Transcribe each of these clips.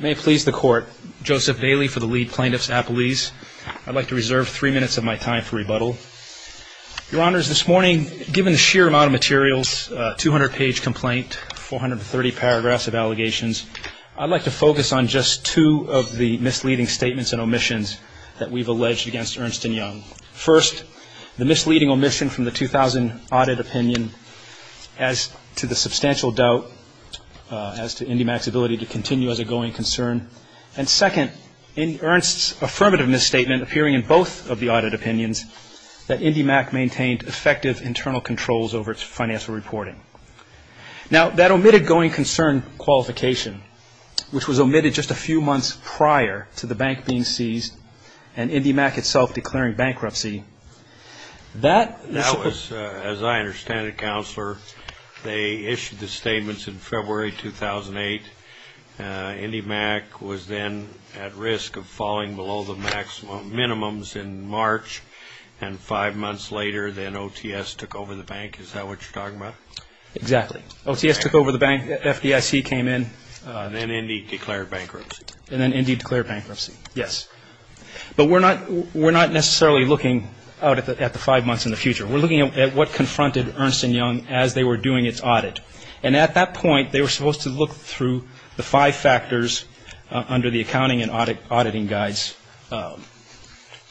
May it please the Court, Joseph Bailey for the Lead Plaintiffs Appellees. I'd like to reserve three minutes of my time for rebuttal. Your Honors, this morning, given the sheer amount of materials, 200-page complaint, 430 paragraphs of allegations, I'd like to focus on just two of the misleading statements and omissions that we've alleged against Ernst & Young. First, the misleading omission from the 2000 audit opinion as to the substantial doubt as to IndyMac's ability to continue as a going concern. And second, in Ernst's affirmative misstatement, appearing in both of the audit opinions, that IndyMac maintained effective internal controls over its financial reporting. Now, that omitted going concern qualification, which was omitted just a few months prior to the bank being seized and IndyMac itself declaring bankruptcy, that was... In February 2008, IndyMac was then at risk of falling below the maximum minimums in March, and five months later, then OTS took over the bank. Is that what you're talking about? Exactly. OTS took over the bank. FDIC came in. Then Indy declared bankruptcy. And then Indy declared bankruptcy, yes. But we're not necessarily looking out at the five months in the future. We're looking at what confronted Ernst & Young as they were doing its audit. And at that point, they were supposed to look through the five factors under the accounting and auditing guides,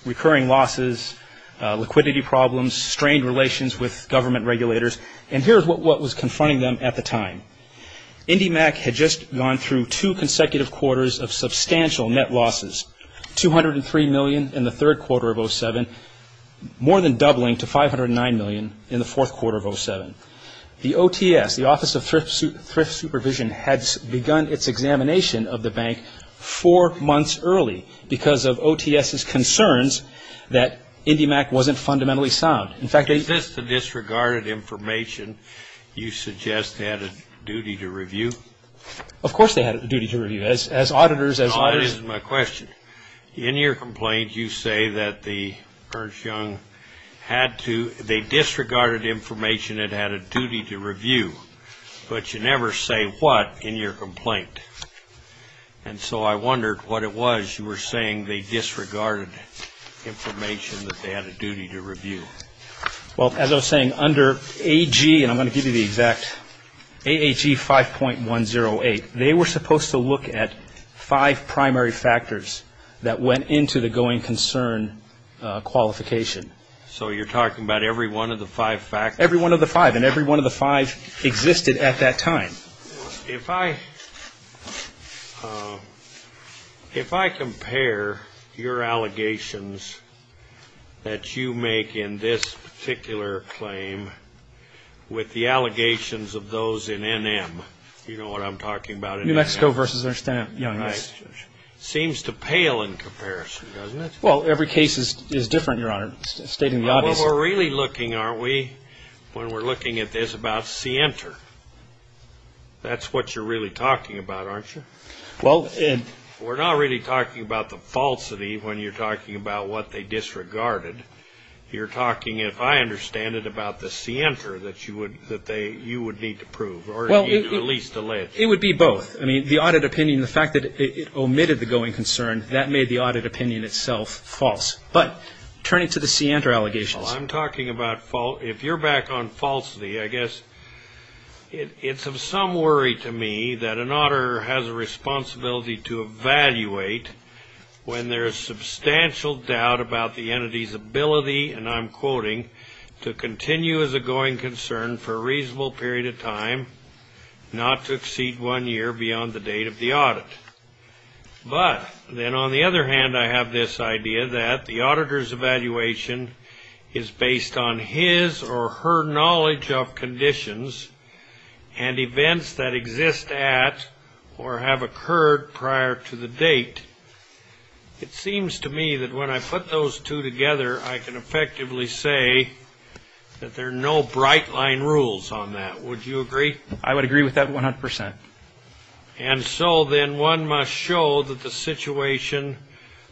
recurring losses, liquidity problems, strained relations with government regulators. And here's what was confronting them at the time. IndyMac had just gone through two consecutive quarters of substantial net losses, $203 million in the third quarter of 2007, more than doubling to $509 million in the fourth quarter of 2007. The OTS, the Office of Thrift Supervision, had begun its examination of the bank four months early because of OTS's concerns that IndyMac wasn't fundamentally sound. Is this the disregarded information you suggest they had a duty to review? Of course they had a duty to review. As auditors... Audit is my question. In your complaint, you say that the Ernst & Young had to... They disregarded information it had a duty to review, but you never say what in your complaint. And so I wondered what it was you were saying they disregarded information that they had a duty to review. Well, as I was saying, under AG, and I'm going to give you the exact... AHE 5.108, they were supposed to look at five primary factors that went into the going concern qualification. So you're talking about every one of the five factors? Every one of the five, and every one of the five existed at that time. If I compare your allegations that you make in this particular claim with the allegations of those in NM, you know what I'm talking about in NM? New Mexico v. Ernst & Young. Seems to pale in comparison, doesn't it? Well, every case is different, Your Honor, stating the obvious. We're really looking, aren't we, when we're looking at this, about scienter. That's what you're really talking about, aren't you? We're not really talking about the falsity when you're talking about what they disregarded. You're talking, if I understand it, about the scienter that you would need to prove or at least allege. It would be both. I mean, the audit opinion, the fact that it omitted the going concern, that made the audit opinion itself false. But turning to the scienter allegations. Well, I'm talking about false. If you're back on falsity, I guess it's of some worry to me that an auditor has a responsibility to evaluate when there is substantial doubt about the entity's ability, and I'm quoting, to continue as a going concern for a reasonable period of time, not to exceed one year beyond the date of the audit. But then on the other hand, I have this idea that the auditor's evaluation is based on his or her knowledge of conditions and events that exist at or have occurred prior to the date. It seems to me that when I put those two together, I can effectively say that there are no bright line rules on that. Would you agree? I would agree with that 100%. And so then one must show that the situation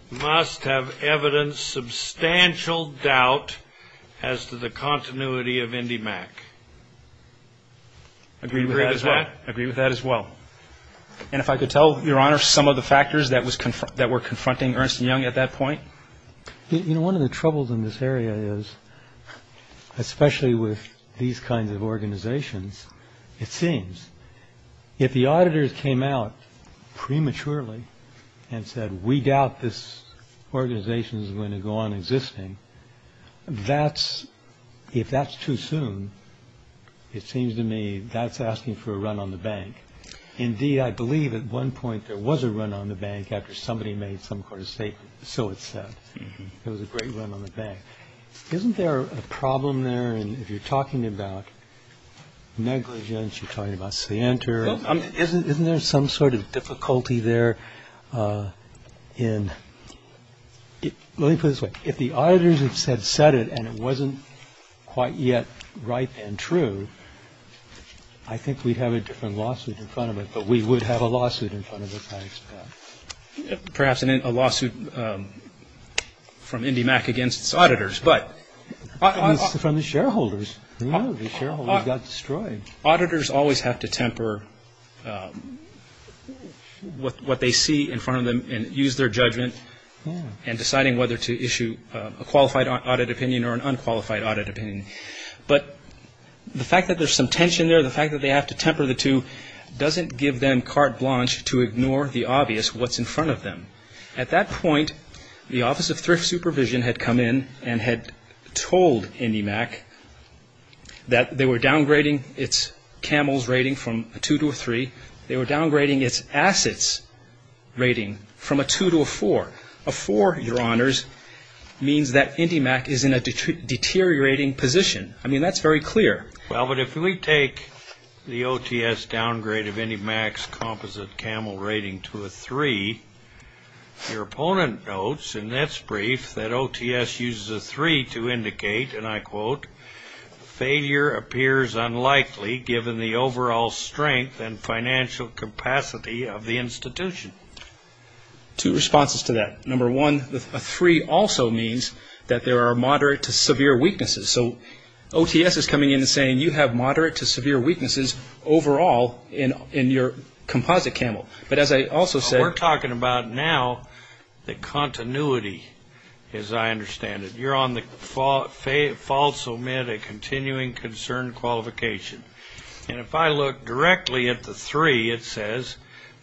must have evidence substantial doubt as to the continuity of IndyMac. Agree with that as well. Agree with that as well. And if I could tell, Your Honor, some of the factors that were confronting Ernst & Young at that point. You know, one of the troubles in this area is, especially with these kinds of organizations, it seems, if the auditors came out prematurely and said, we doubt this organization is going to go on existing. That's if that's too soon. It seems to me that's asking for a run on the bank. Indeed, I believe at one point there was a run on the bank after somebody made some sort of statement. So it said it was a great run on the bank. Isn't there a problem there? And if you're talking about negligence, you're talking about say enter. Isn't there some sort of difficulty there in it? If the auditors had said it and it wasn't quite yet right and true, I think we'd have a different lawsuit in front of it. But we would have a lawsuit in front of it. Perhaps a lawsuit from IndyMac against its auditors. From the shareholders. The shareholders got destroyed. Auditors always have to temper with what they see in front of them and use their judgment in deciding whether to issue a qualified audit opinion or an unqualified audit opinion. But the fact that there's some tension there, the fact that they have to temper the two, doesn't give them carte blanche to ignore the obvious, what's in front of them. At that point, the Office of Thrift Supervision had come in and had told IndyMac that they were downgrading its camels rating from a two to a three. They were downgrading its assets rating from a two to a four. A four, Your Honors, means that IndyMac is in a deteriorating position. I mean, that's very clear. Well, but if we take the OTS downgrade of IndyMac's composite camel rating to a three, your opponent notes, and that's brief, that OTS uses a three to indicate, and I quote, failure appears unlikely given the overall strength and financial capacity of the institution. Two responses to that. Number one, a three also means that there are moderate to severe weaknesses. So OTS is coming in and saying you have moderate to severe weaknesses overall in your composite camel. But as I also said – We're talking about now the continuity, as I understand it. You're on the false omit of continuing concern qualification. And if I look directly at the three, it says,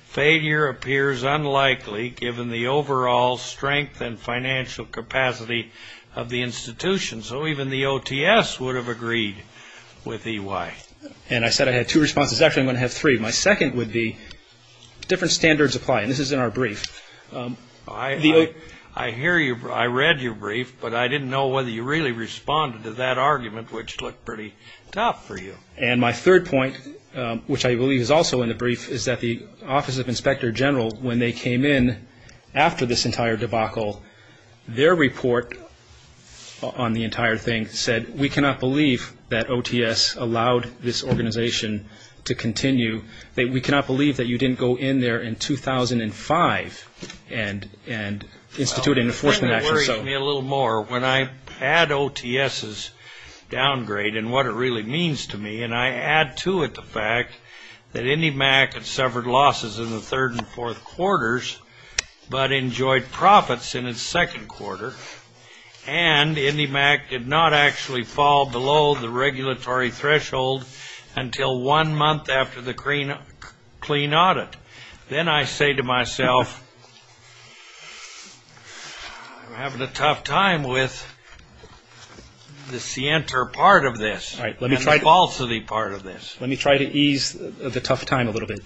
failure appears unlikely given the overall strength and financial capacity of the institution. So even the OTS would have agreed with EY. And I said I had two responses. Actually, I'm going to have three. My second would be different standards apply, and this is in our brief. I hear you. I read your brief, but I didn't know whether you really responded to that argument, which looked pretty tough for you. And my third point, which I believe is also in the brief, is that the Office of Inspector General, when they came in after this entire debacle, their report on the entire thing said, we cannot believe that OTS allowed this organization to continue. We cannot believe that you didn't go in there in 2005 and institute an enforcement action. It worries me a little more. When I add OTS's downgrade and what it really means to me, and I add to it the fact that IndyMac had suffered losses in the third and fourth quarters but enjoyed profits in its second quarter, and IndyMac did not actually fall below the regulatory threshold until one month after the clean audit, then I say to myself, I'm having a tough time with the scienter part of this and the falsity part of this. Let me try to ease the tough time a little bit.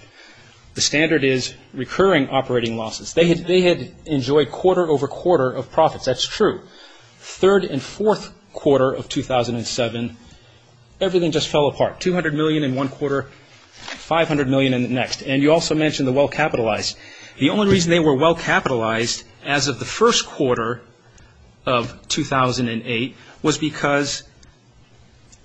The standard is recurring operating losses. They had enjoyed quarter over quarter of profits. That's true. Third and fourth quarter of 2007, everything just fell apart. $200 million in one quarter, $500 million in the next. And you also mentioned the well-capitalized. The only reason they were well-capitalized as of the first quarter of 2008 was because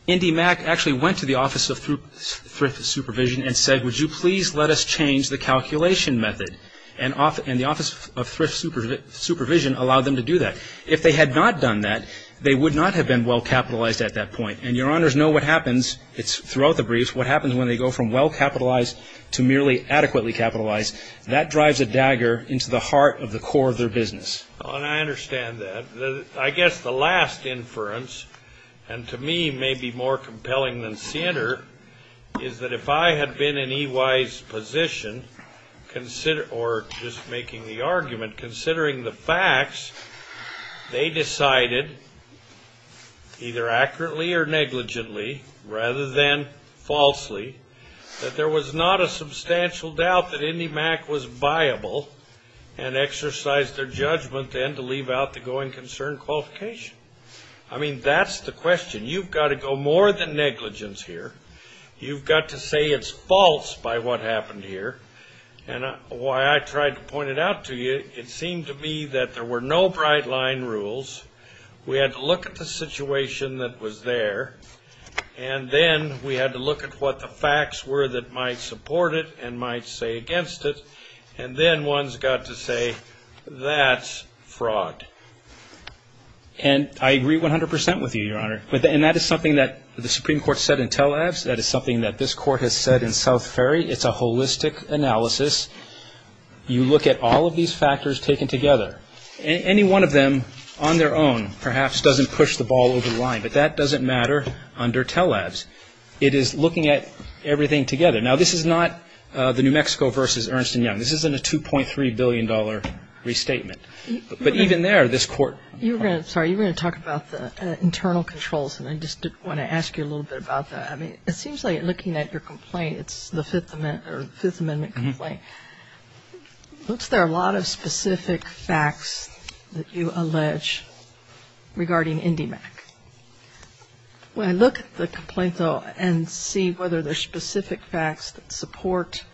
IndyMac actually went to the Office of Thrift Supervision and said, would you please let us change the calculation method? And the Office of Thrift Supervision allowed them to do that. If they had not done that, they would not have been well-capitalized at that point. And your honors know what happens, it's throughout the briefs, what happens when they go from well-capitalized to merely adequately capitalized. That drives a dagger into the heart of the core of their business. And I understand that. I guess the last inference, and to me may be more compelling than Sinter, is that if I had been in EY's position, or just making the argument, considering the facts, they decided, either accurately or negligently, rather than falsely, that there was not a substantial doubt that IndyMac was viable and exercised their judgment then to leave out the going concern qualification. I mean, that's the question. You've got to go more than negligence here. You've got to say it's false by what happened here. And why I tried to point it out to you, it seemed to me that there were no bright-line rules. We had to look at the situation that was there. And then we had to look at what the facts were that might support it and might say against it. And then one's got to say, that's fraud. And I agree 100% with you, your honor. And that is something that the Supreme Court said in Tel Aviv. That is something that this Court has said in South Ferry. It's a holistic analysis. You look at all of these factors taken together. Any one of them, on their own, perhaps doesn't push the ball over the line. But that doesn't matter under Tel Aviv. It is looking at everything together. Now, this is not the New Mexico versus Ernst & Young. This isn't a $2.3 billion restatement. But even there, this Court – You were going to – sorry, you were going to talk about the internal controls. And I just want to ask you a little bit about that. I mean, it seems like looking at your complaint, it's the Fifth Amendment complaint, it looks like there are a lot of specific facts that you allege regarding IndyMac. When I look at the complaint, though, and see whether there are specific facts that support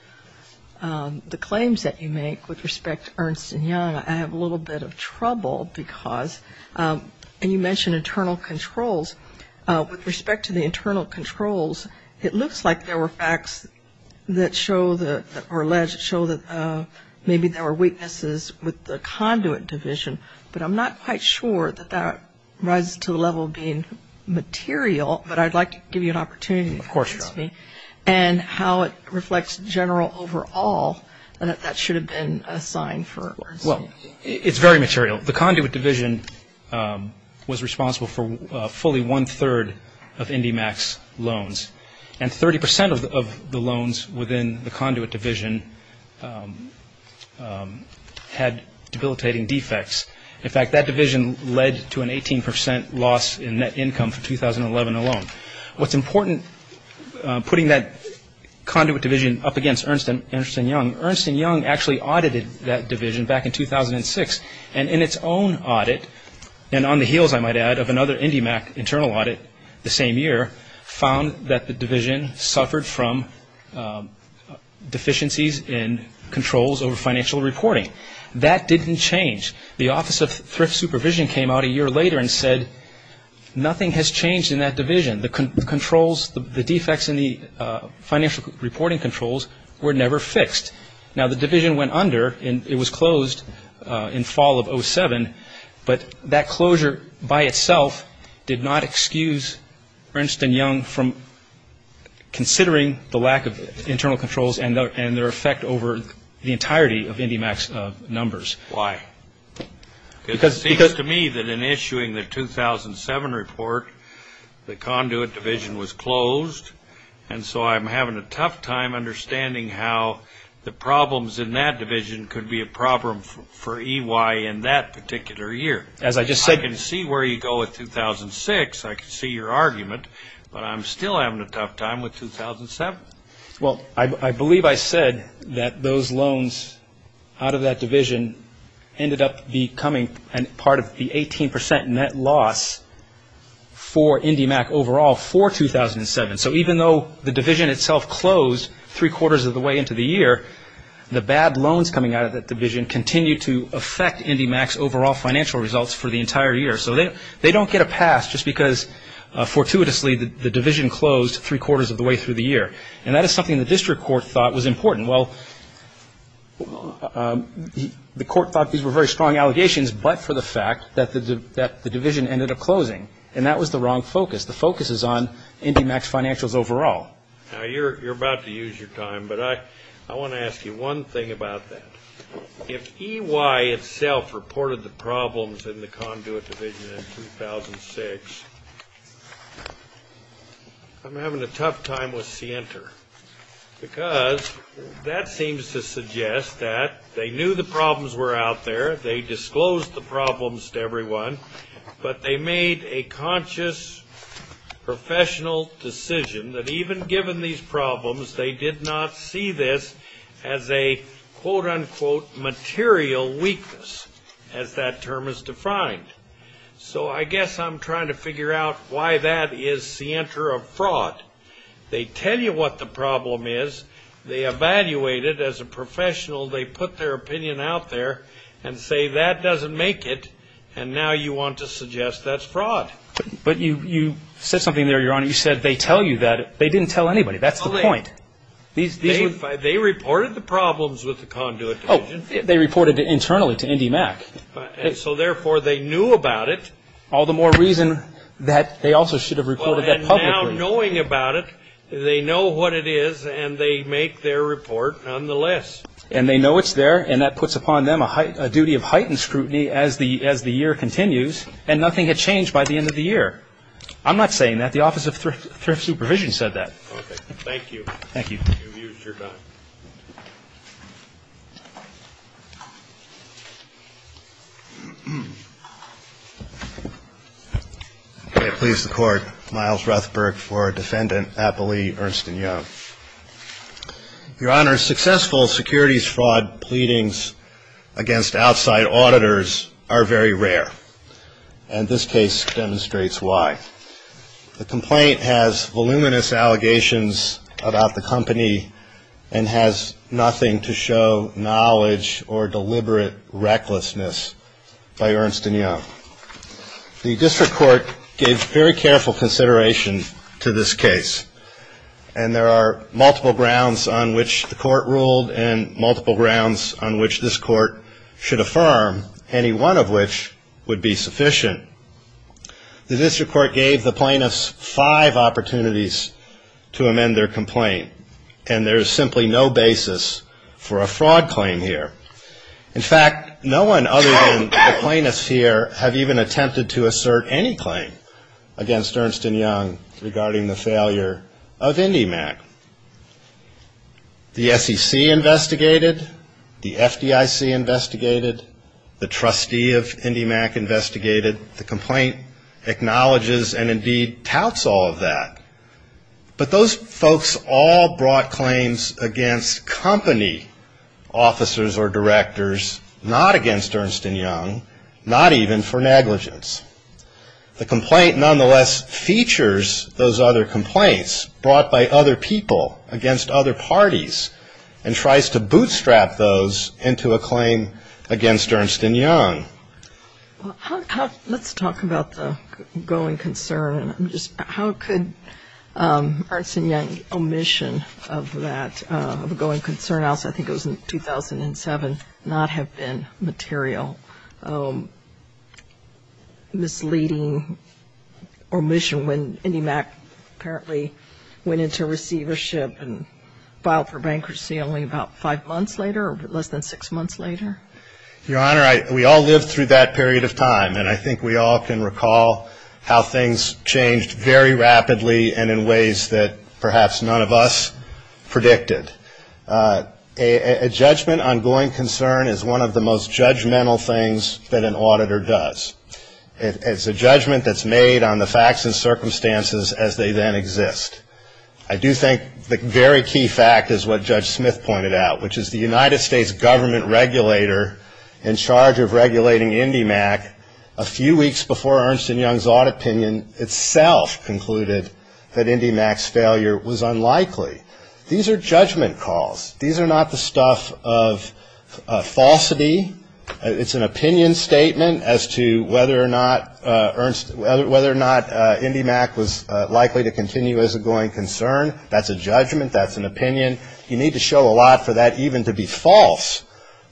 the claims that you make with respect to Ernst & Young, I have a little bit of trouble because – and you mentioned internal controls. With respect to the internal controls, it looks like there were facts that show that – or allege that show that maybe there were weaknesses with the conduit division. But I'm not quite sure that that rises to the level of being material. But I'd like to give you an opportunity to convince me. Of course, Your Honor. And how it reflects general overall, that that should have been a sign for Ernst & Young. Well, it's very material. The conduit division was responsible for fully one-third of IndyMac's loans. And 30% of the loans within the conduit division had debilitating defects. In fact, that division led to an 18% loss in net income for 2011 alone. What's important, putting that conduit division up against Ernst & Young, Ernst & Young actually audited that division back in 2006. And in its own audit, and on the heels, I might add, of another IndyMac internal audit the same year, found that the division suffered from deficiencies in controls over financial reporting. That didn't change. The Office of Thrift Supervision came out a year later and said nothing has changed in that division. The controls, the defects in the financial reporting controls were never fixed. Now, the division went under, and it was closed in fall of 2007. But that closure by itself did not excuse Ernst & Young from considering the lack of internal controls and their effect over the entirety of IndyMac's numbers. Why? It seems to me that in issuing the 2007 report, the conduit division was closed, and so I'm having a tough time understanding how the problems in that division could be a problem for EY in that particular year. As I just said – I can see where you go with 2006. I can see your argument. But I'm still having a tough time with 2007. Well, I believe I said that those loans out of that division ended up becoming part of the 18% net loss for IndyMac overall for 2007. So even though the division itself closed three-quarters of the way into the year, the bad loans coming out of that division continue to affect IndyMac's overall financial results for the entire year. So they don't get a pass just because fortuitously the division closed three-quarters of the way through the year. And that is something the district court thought was important. Well, the court thought these were very strong allegations, but for the fact that the division ended up closing, and that was the wrong focus. The focus is on IndyMac's financials overall. Now, you're about to use your time, but I want to ask you one thing about that. If EY itself reported the problems in the conduit division in 2006, I'm having a tough time with Sienter, because that seems to suggest that they knew the problems were out there. They disclosed the problems to everyone, but they made a conscious professional decision that even given these problems, they did not see this as a, quote, unquote, material weakness, as that term is defined. So I guess I'm trying to figure out why that is Sienter of fraud. They tell you what the problem is. They evaluate it as a professional. They put their opinion out there and say that doesn't make it, and now you want to suggest that's fraud. But you said something there, Your Honor. You said they tell you that. They didn't tell anybody. That's the point. They reported the problems with the conduit division. They reported it internally to IndyMac. So, therefore, they knew about it. All the more reason that they also should have reported that publicly. And now knowing about it, they know what it is, and they make their report nonetheless. And they know it's there, and that puts upon them a duty of heightened scrutiny as the year continues, and nothing had changed by the end of the year. I'm not saying that. The Office of Thrift Supervision said that. Okay. Thank you. Thank you. You've used your time. May it please the Court. Miles Ruthberg for Defendant Appelee Ernst & Young. Your Honor, successful securities fraud pleadings against outside auditors are very rare, and this case demonstrates why. The complaint has voluminous allegations about the company and has nothing to show knowledge or deliberate recklessness by Ernst & Young. The district court gave very careful consideration to this case, and there are multiple grounds on which the court ruled and multiple grounds on which this court should affirm, any one of which would be sufficient. The district court gave the plaintiffs five opportunities to amend their complaint, and there is simply no basis for a fraud claim here. In fact, no one other than the plaintiffs here have even attempted to assert any claim against Ernst & Young regarding the failure of IndyMac. The SEC investigated. The FDIC investigated. The trustee of IndyMac investigated. The complaint acknowledges and indeed touts all of that, but those folks all brought claims against company officers or directors, not against Ernst & Young, not even for negligence. The complaint nonetheless features those other complaints brought by other people against other parties and tries to bootstrap those into a claim against Ernst & Young. Let's talk about the going concern. How could Ernst & Young's omission of that going concern, I think it was in 2007, not have been material? Misleading omission when IndyMac apparently went into receivership and filed for bankruptcy only about five months later or less than six months later? Your Honor, we all lived through that period of time, and I think we all can recall how things changed very rapidly and in ways that perhaps none of us predicted. A judgment on going concern is one of the most judgmental things that an auditor does. It's a judgment that's made on the facts and circumstances as they then exist. I do think the very key fact is what Judge Smith pointed out, which is the United States government regulator in charge of regulating IndyMac a few weeks before Ernst & Young's own opinion itself concluded that IndyMac's failure was unlikely. These are judgment calls. These are not the stuff of falsity. It's an opinion statement as to whether or not IndyMac was likely to continue as a going concern. That's an opinion. You need to show a lot for that even to be false,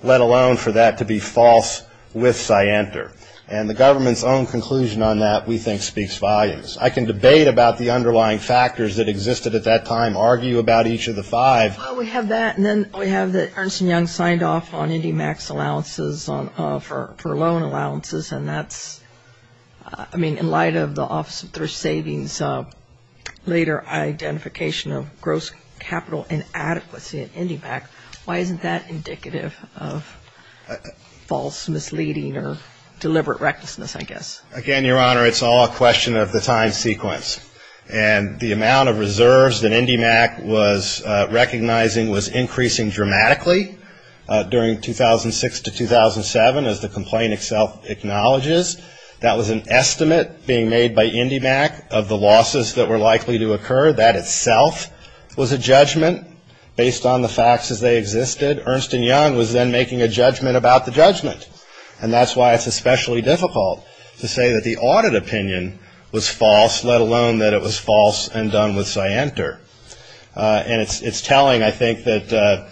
let alone for that to be false with scienter. And the government's own conclusion on that we think speaks volumes. I can debate about the underlying factors that existed at that time, argue about each of the five. Well, we have that, and then we have that Ernst & Young signed off on IndyMac's allowances for loan allowances, and that's, I mean, in light of the Office of Thrift Savings' later identification of gross capital inadequacy at IndyMac, why isn't that indicative of false misleading or deliberate recklessness, I guess? Again, Your Honor, it's all a question of the time sequence. And the amount of reserves that IndyMac was recognizing was increasing dramatically during 2006 to 2007, as the complaint itself acknowledges. That was an estimate being made by IndyMac of the losses that were likely to occur. That itself was a judgment based on the facts as they existed. Ernst & Young was then making a judgment about the judgment, and that's why it's especially difficult to say that the audit opinion was false, let alone that it was false and done with scienter. And it's telling, I think, that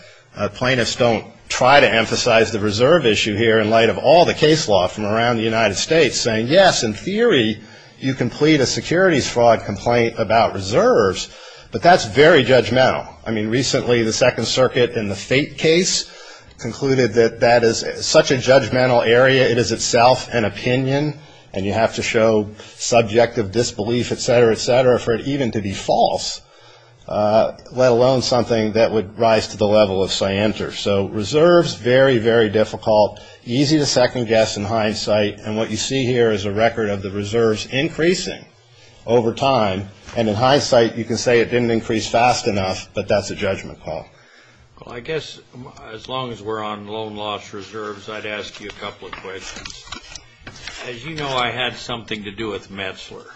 plaintiffs don't try to emphasize the reserve issue here in light of all the case law from around the United States, saying, yes, in theory, you can plead a securities fraud complaint about reserves, but that's very judgmental. I mean, recently the Second Circuit in the Fate case concluded that that is such a judgmental area, it is itself an opinion, and you have to show subjective disbelief, et cetera, et cetera, for it even to be false. Let alone something that would rise to the level of scienter. So reserves, very, very difficult, easy to second guess in hindsight, and what you see here is a record of the reserves increasing over time. And in hindsight, you can say it didn't increase fast enough, but that's a judgment call. Well, I guess as long as we're on loan loss reserves, I'd ask you a couple of questions. As you know, I had something to do with Metzler.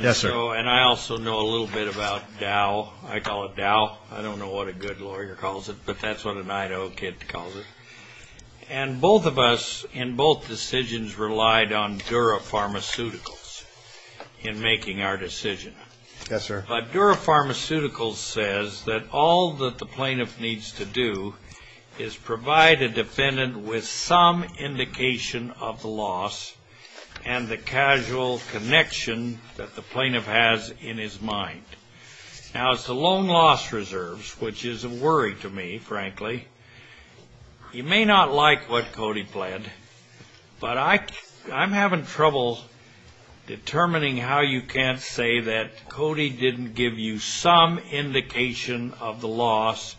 Yes, sir. And I also know a little bit about Dow. I call it Dow. I don't know what a good lawyer calls it, but that's what an Idaho kid calls it. And both of us in both decisions relied on Dura Pharmaceuticals in making our decision. Yes, sir. But Dura Pharmaceuticals says that all that the plaintiff needs to do is provide a defendant with some indication of the loss and the casual connection that the plaintiff has in his mind. Now, as to loan loss reserves, which is a worry to me, frankly, you may not like what Cody pled, but I'm having trouble determining how you can't say that Cody didn't give you some indication of the loss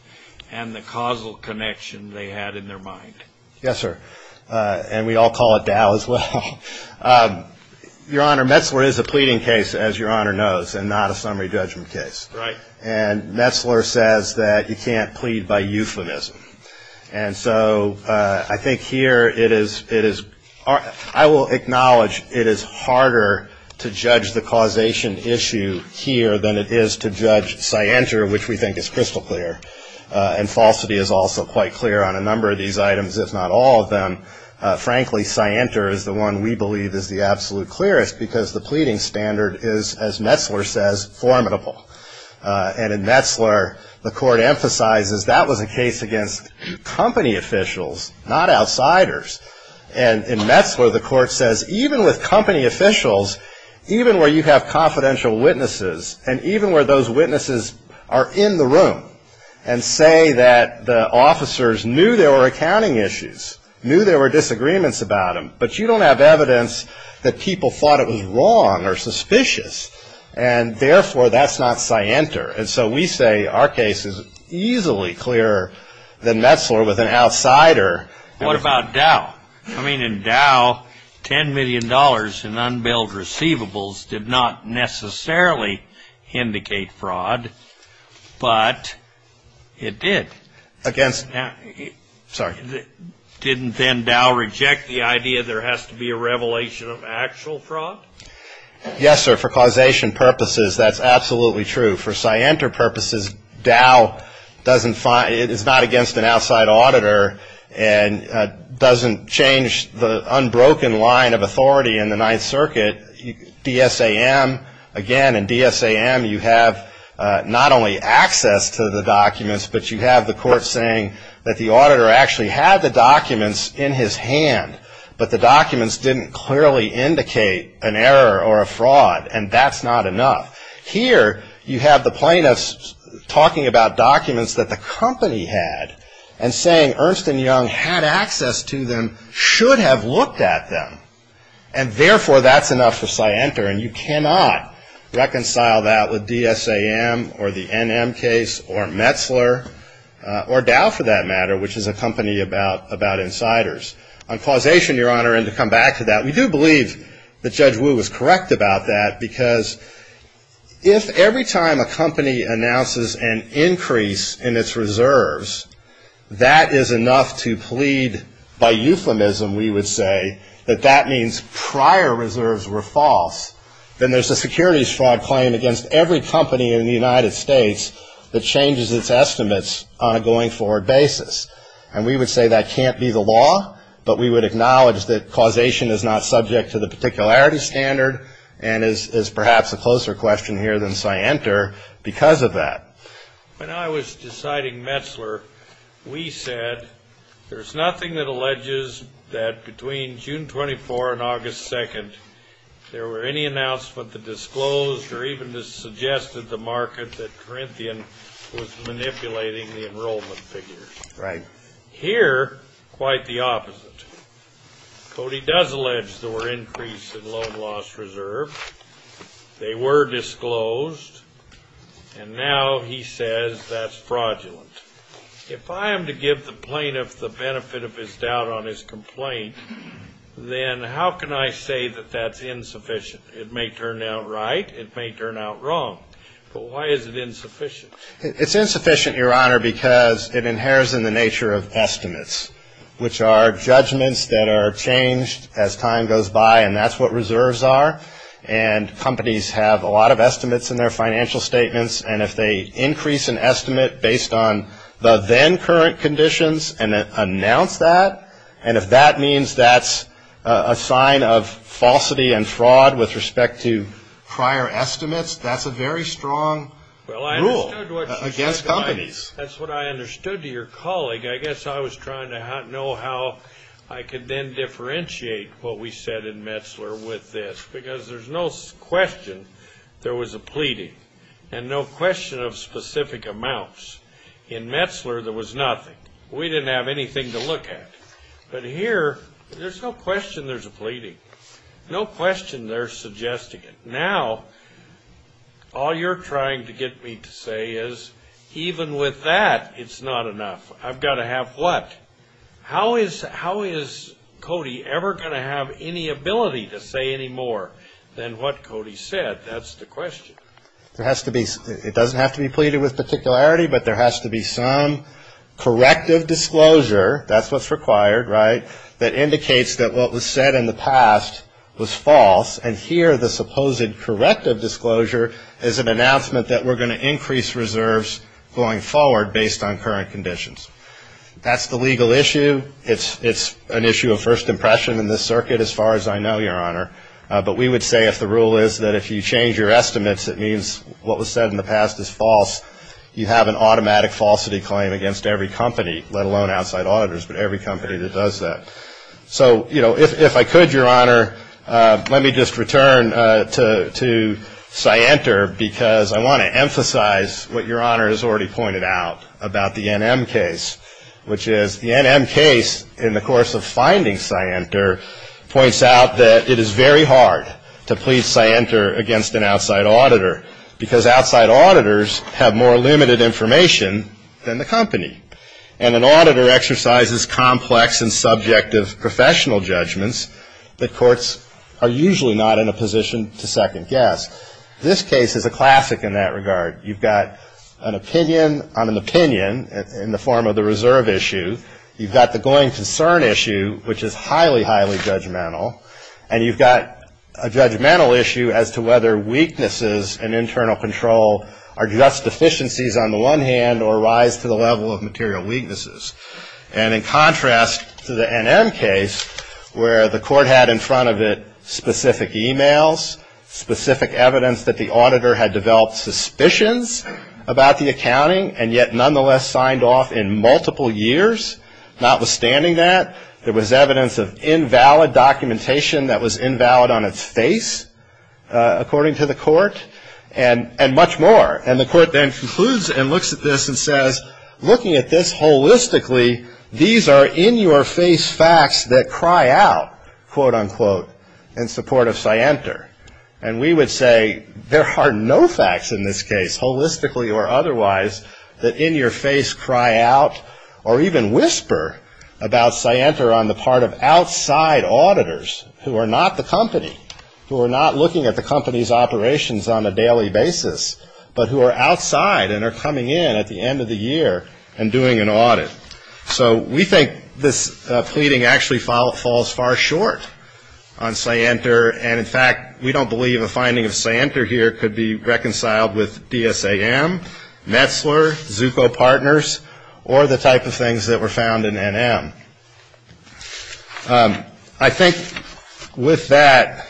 and the causal connection they had in their mind. Yes, sir. And we all call it Dow as well. Your Honor, Metzler is a pleading case, as Your Honor knows, and not a summary judgment case. Right. And Metzler says that you can't plead by euphemism. And so I think here it is, I will acknowledge it is harder to judge the causation issue here than it is to judge scienter, which we think is crystal clear. And falsity is also quite clear on a number of these items, if not all of them. Frankly, scienter is the one we believe is the absolute clearest because the pleading standard is, as Metzler says, formidable. And in Metzler, the court emphasizes that was a case against company officials, not outsiders. And in Metzler, the court says even with company officials, even where you have confidential witnesses and even where those witnesses are in the room, and say that the officers knew there were accounting issues, knew there were disagreements about them, but you don't have evidence that people thought it was wrong or suspicious. And therefore, that's not scienter. And so we say our case is easily clearer than Metzler with an outsider. What about Dow? I mean, in Dow, $10 million in unbilled receivables did not necessarily indicate fraud. But it did. Against? Sorry. Didn't then Dow reject the idea there has to be a revelation of actual fraud? Yes, sir. For causation purposes, that's absolutely true. For scienter purposes, Dow is not against an outside auditor and doesn't change the unbroken line of authority in the Ninth Circuit. DSAM, again, in DSAM, you have not only access to the documents, but you have the court saying that the auditor actually had the documents in his hand, but the documents didn't clearly indicate an error or a fraud, and that's not enough. Here, you have the plaintiffs talking about documents that the company had and saying Ernst & Young had access to them, should have looked at them. And therefore, that's enough for scienter, and you cannot reconcile that with DSAM or the NM case or Metzler, or Dow for that matter, which is a company about insiders. On causation, Your Honor, and to come back to that, we do believe that Judge Wu was correct about that, because if every time a company announces an increase in its reserves, that is enough to plead by euphemism, we would say, that that means prior reserves were false, then there's a securities fraud claim against every company in the United States that changes its estimates on a going forward basis. And we would say that can't be the law, but we would acknowledge that causation is not subject to the particularity standard and is perhaps a closer question here than scienter because of that. When I was deciding Metzler, we said, there's nothing that alleges that between June 24 and August 2, there were any announcements that disclosed or even suggested the market that Corinthian was manipulating the enrollment figures. Right. Here, quite the opposite. Cody does allege there were increases in loan loss reserve. They were disclosed. And now he says that's fraudulent. If I am to give the plaintiff the benefit of his doubt on his complaint, then how can I say that that's insufficient? It may turn out right. It may turn out wrong. But why is it insufficient? It's insufficient, Your Honor, because it inheres in the nature of estimates, which are judgments that are changed as time goes by, and that's what reserves are. And companies have a lot of estimates in their financial statements, and if they increase an estimate based on the then current conditions and announce that, and if that means that's a sign of falsity and fraud with respect to prior estimates, that's a very strong rule against companies. That's what I understood to your colleague. I guess I was trying to know how I could then differentiate what we said in Metzler with this, because there's no question there was a pleading and no question of specific amounts. In Metzler, there was nothing. We didn't have anything to look at. But here, there's no question there's a pleading. No question they're suggesting it. Now, all you're trying to get me to say is, even with that, it's not enough. I've got to have what? How is Cody ever going to have any ability to say any more than what Cody said? That's the question. It doesn't have to be pleaded with particularity, but there has to be some corrective disclosure, that's what's required, right, that indicates that what was said in the past was false, and here the supposed corrective disclosure is an announcement that we're going to increase reserves going forward based on current conditions. That's the legal issue. It's an issue of first impression in this circuit as far as I know, Your Honor. But we would say if the rule is that if you change your estimates, it means what was said in the past is false, you have an automatic falsity claim against every company, let alone outside auditors, but every company that does that. So, you know, if I could, Your Honor, let me just return to Scienter, because I want to emphasize what Your Honor has already pointed out about the NM case, which is the NM case, in the course of finding Scienter, points out that it is very hard to plead Scienter against an outside auditor, because outside auditors have more limited information than the company, and an auditor exercises complex and subjective professional judgments that courts are usually not in a position to second guess. This case is a classic in that regard. You've got an opinion on an opinion in the form of the reserve issue. You've got the going concern issue, which is highly, highly judgmental. And you've got a judgmental issue as to whether weaknesses in internal control are just deficiencies on the one hand or rise to the level of material weaknesses. And in contrast to the NM case, where the court had in front of it specific e-mails, specific evidence that the auditor had developed suspicions about the accounting and yet nonetheless signed off in multiple years, notwithstanding that, there was evidence of invalid documentation that was invalid on its face, according to the court, and much more. And the court then concludes and looks at this and says, looking at this holistically, these are in-your-face facts that cry out, quote, unquote, in support of Scienter. And we would say there are no facts in this case, holistically or otherwise, that in your face cry out or even whisper about Scienter on the part of outside auditors who are not the company, who are not looking at the company's operations on a daily basis, but who are outside and are coming in at the end of the year and doing an audit. So we think this pleading actually falls far short on Scienter. And, in fact, we don't believe a finding of Scienter here could be reconciled with DSAM, Metzler, Zucco Partners, or the type of things that were found in NM. I think with that,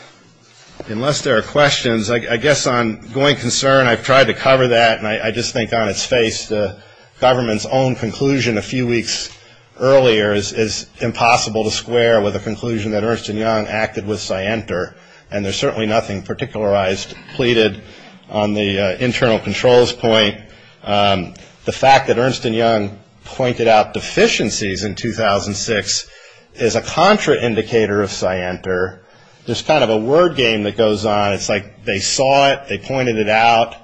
unless there are questions, I guess on going concern, I've tried to cover that, and I just think on its face the government's own conclusion a few weeks earlier is impossible to square with a conclusion that Ernst & Young acted with Scienter. And there's certainly nothing particularized, pleaded on the internal controls point. The fact that Ernst & Young pointed out deficiencies in 2006 is a contraindicator of Scienter. There's kind of a word game that goes on. It's like they saw it, they pointed it out,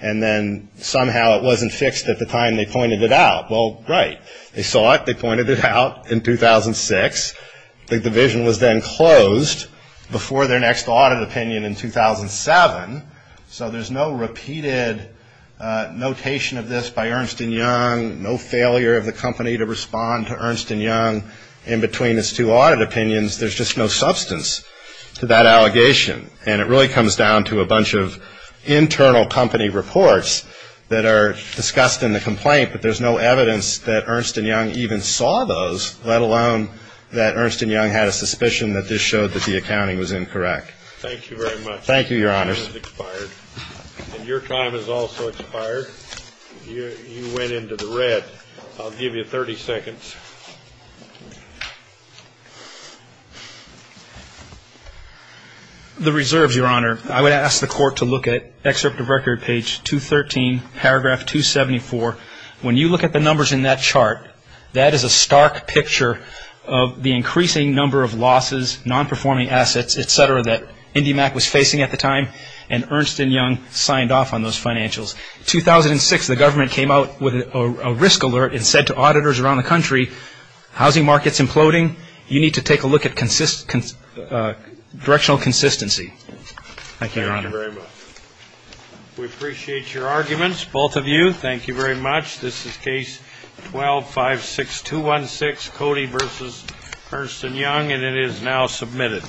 and then somehow it wasn't fixed at the time they pointed it out. Well, right. They saw it, they pointed it out in 2006. The division was then closed before their next audit opinion in 2007. So there's no repeated notation of this by Ernst & Young, no failure of the company to respond to Ernst & Young in between its two audit opinions. There's just no substance to that allegation. And it really comes down to a bunch of internal company reports that are discussed in the complaint, but there's no evidence that Ernst & Young even saw those, let alone that Ernst & Young had a suspicion that this showed that the accounting was incorrect. Thank you very much. Your time has expired. And your time has also expired. You went into the red. I'll give you 30 seconds. The reserves, Your Honor, I would ask the court to look at Excerpt of Record, page 213, paragraph 274. When you look at the numbers in that chart, that is a stark picture of the increasing number of losses, non-performing assets, et cetera, that IndyMac was facing at the time, and Ernst & Young signed off on those financials. In 2006, the government came out with a risk alert and said to auditors around the country, housing market's imploding, you need to take a look at directional consistency. Thank you, Your Honor. Thank you very much. We appreciate your arguments, both of you. Thank you very much. This is Case 12-56216, Cody v. Ernst & Young, and it is now submitted.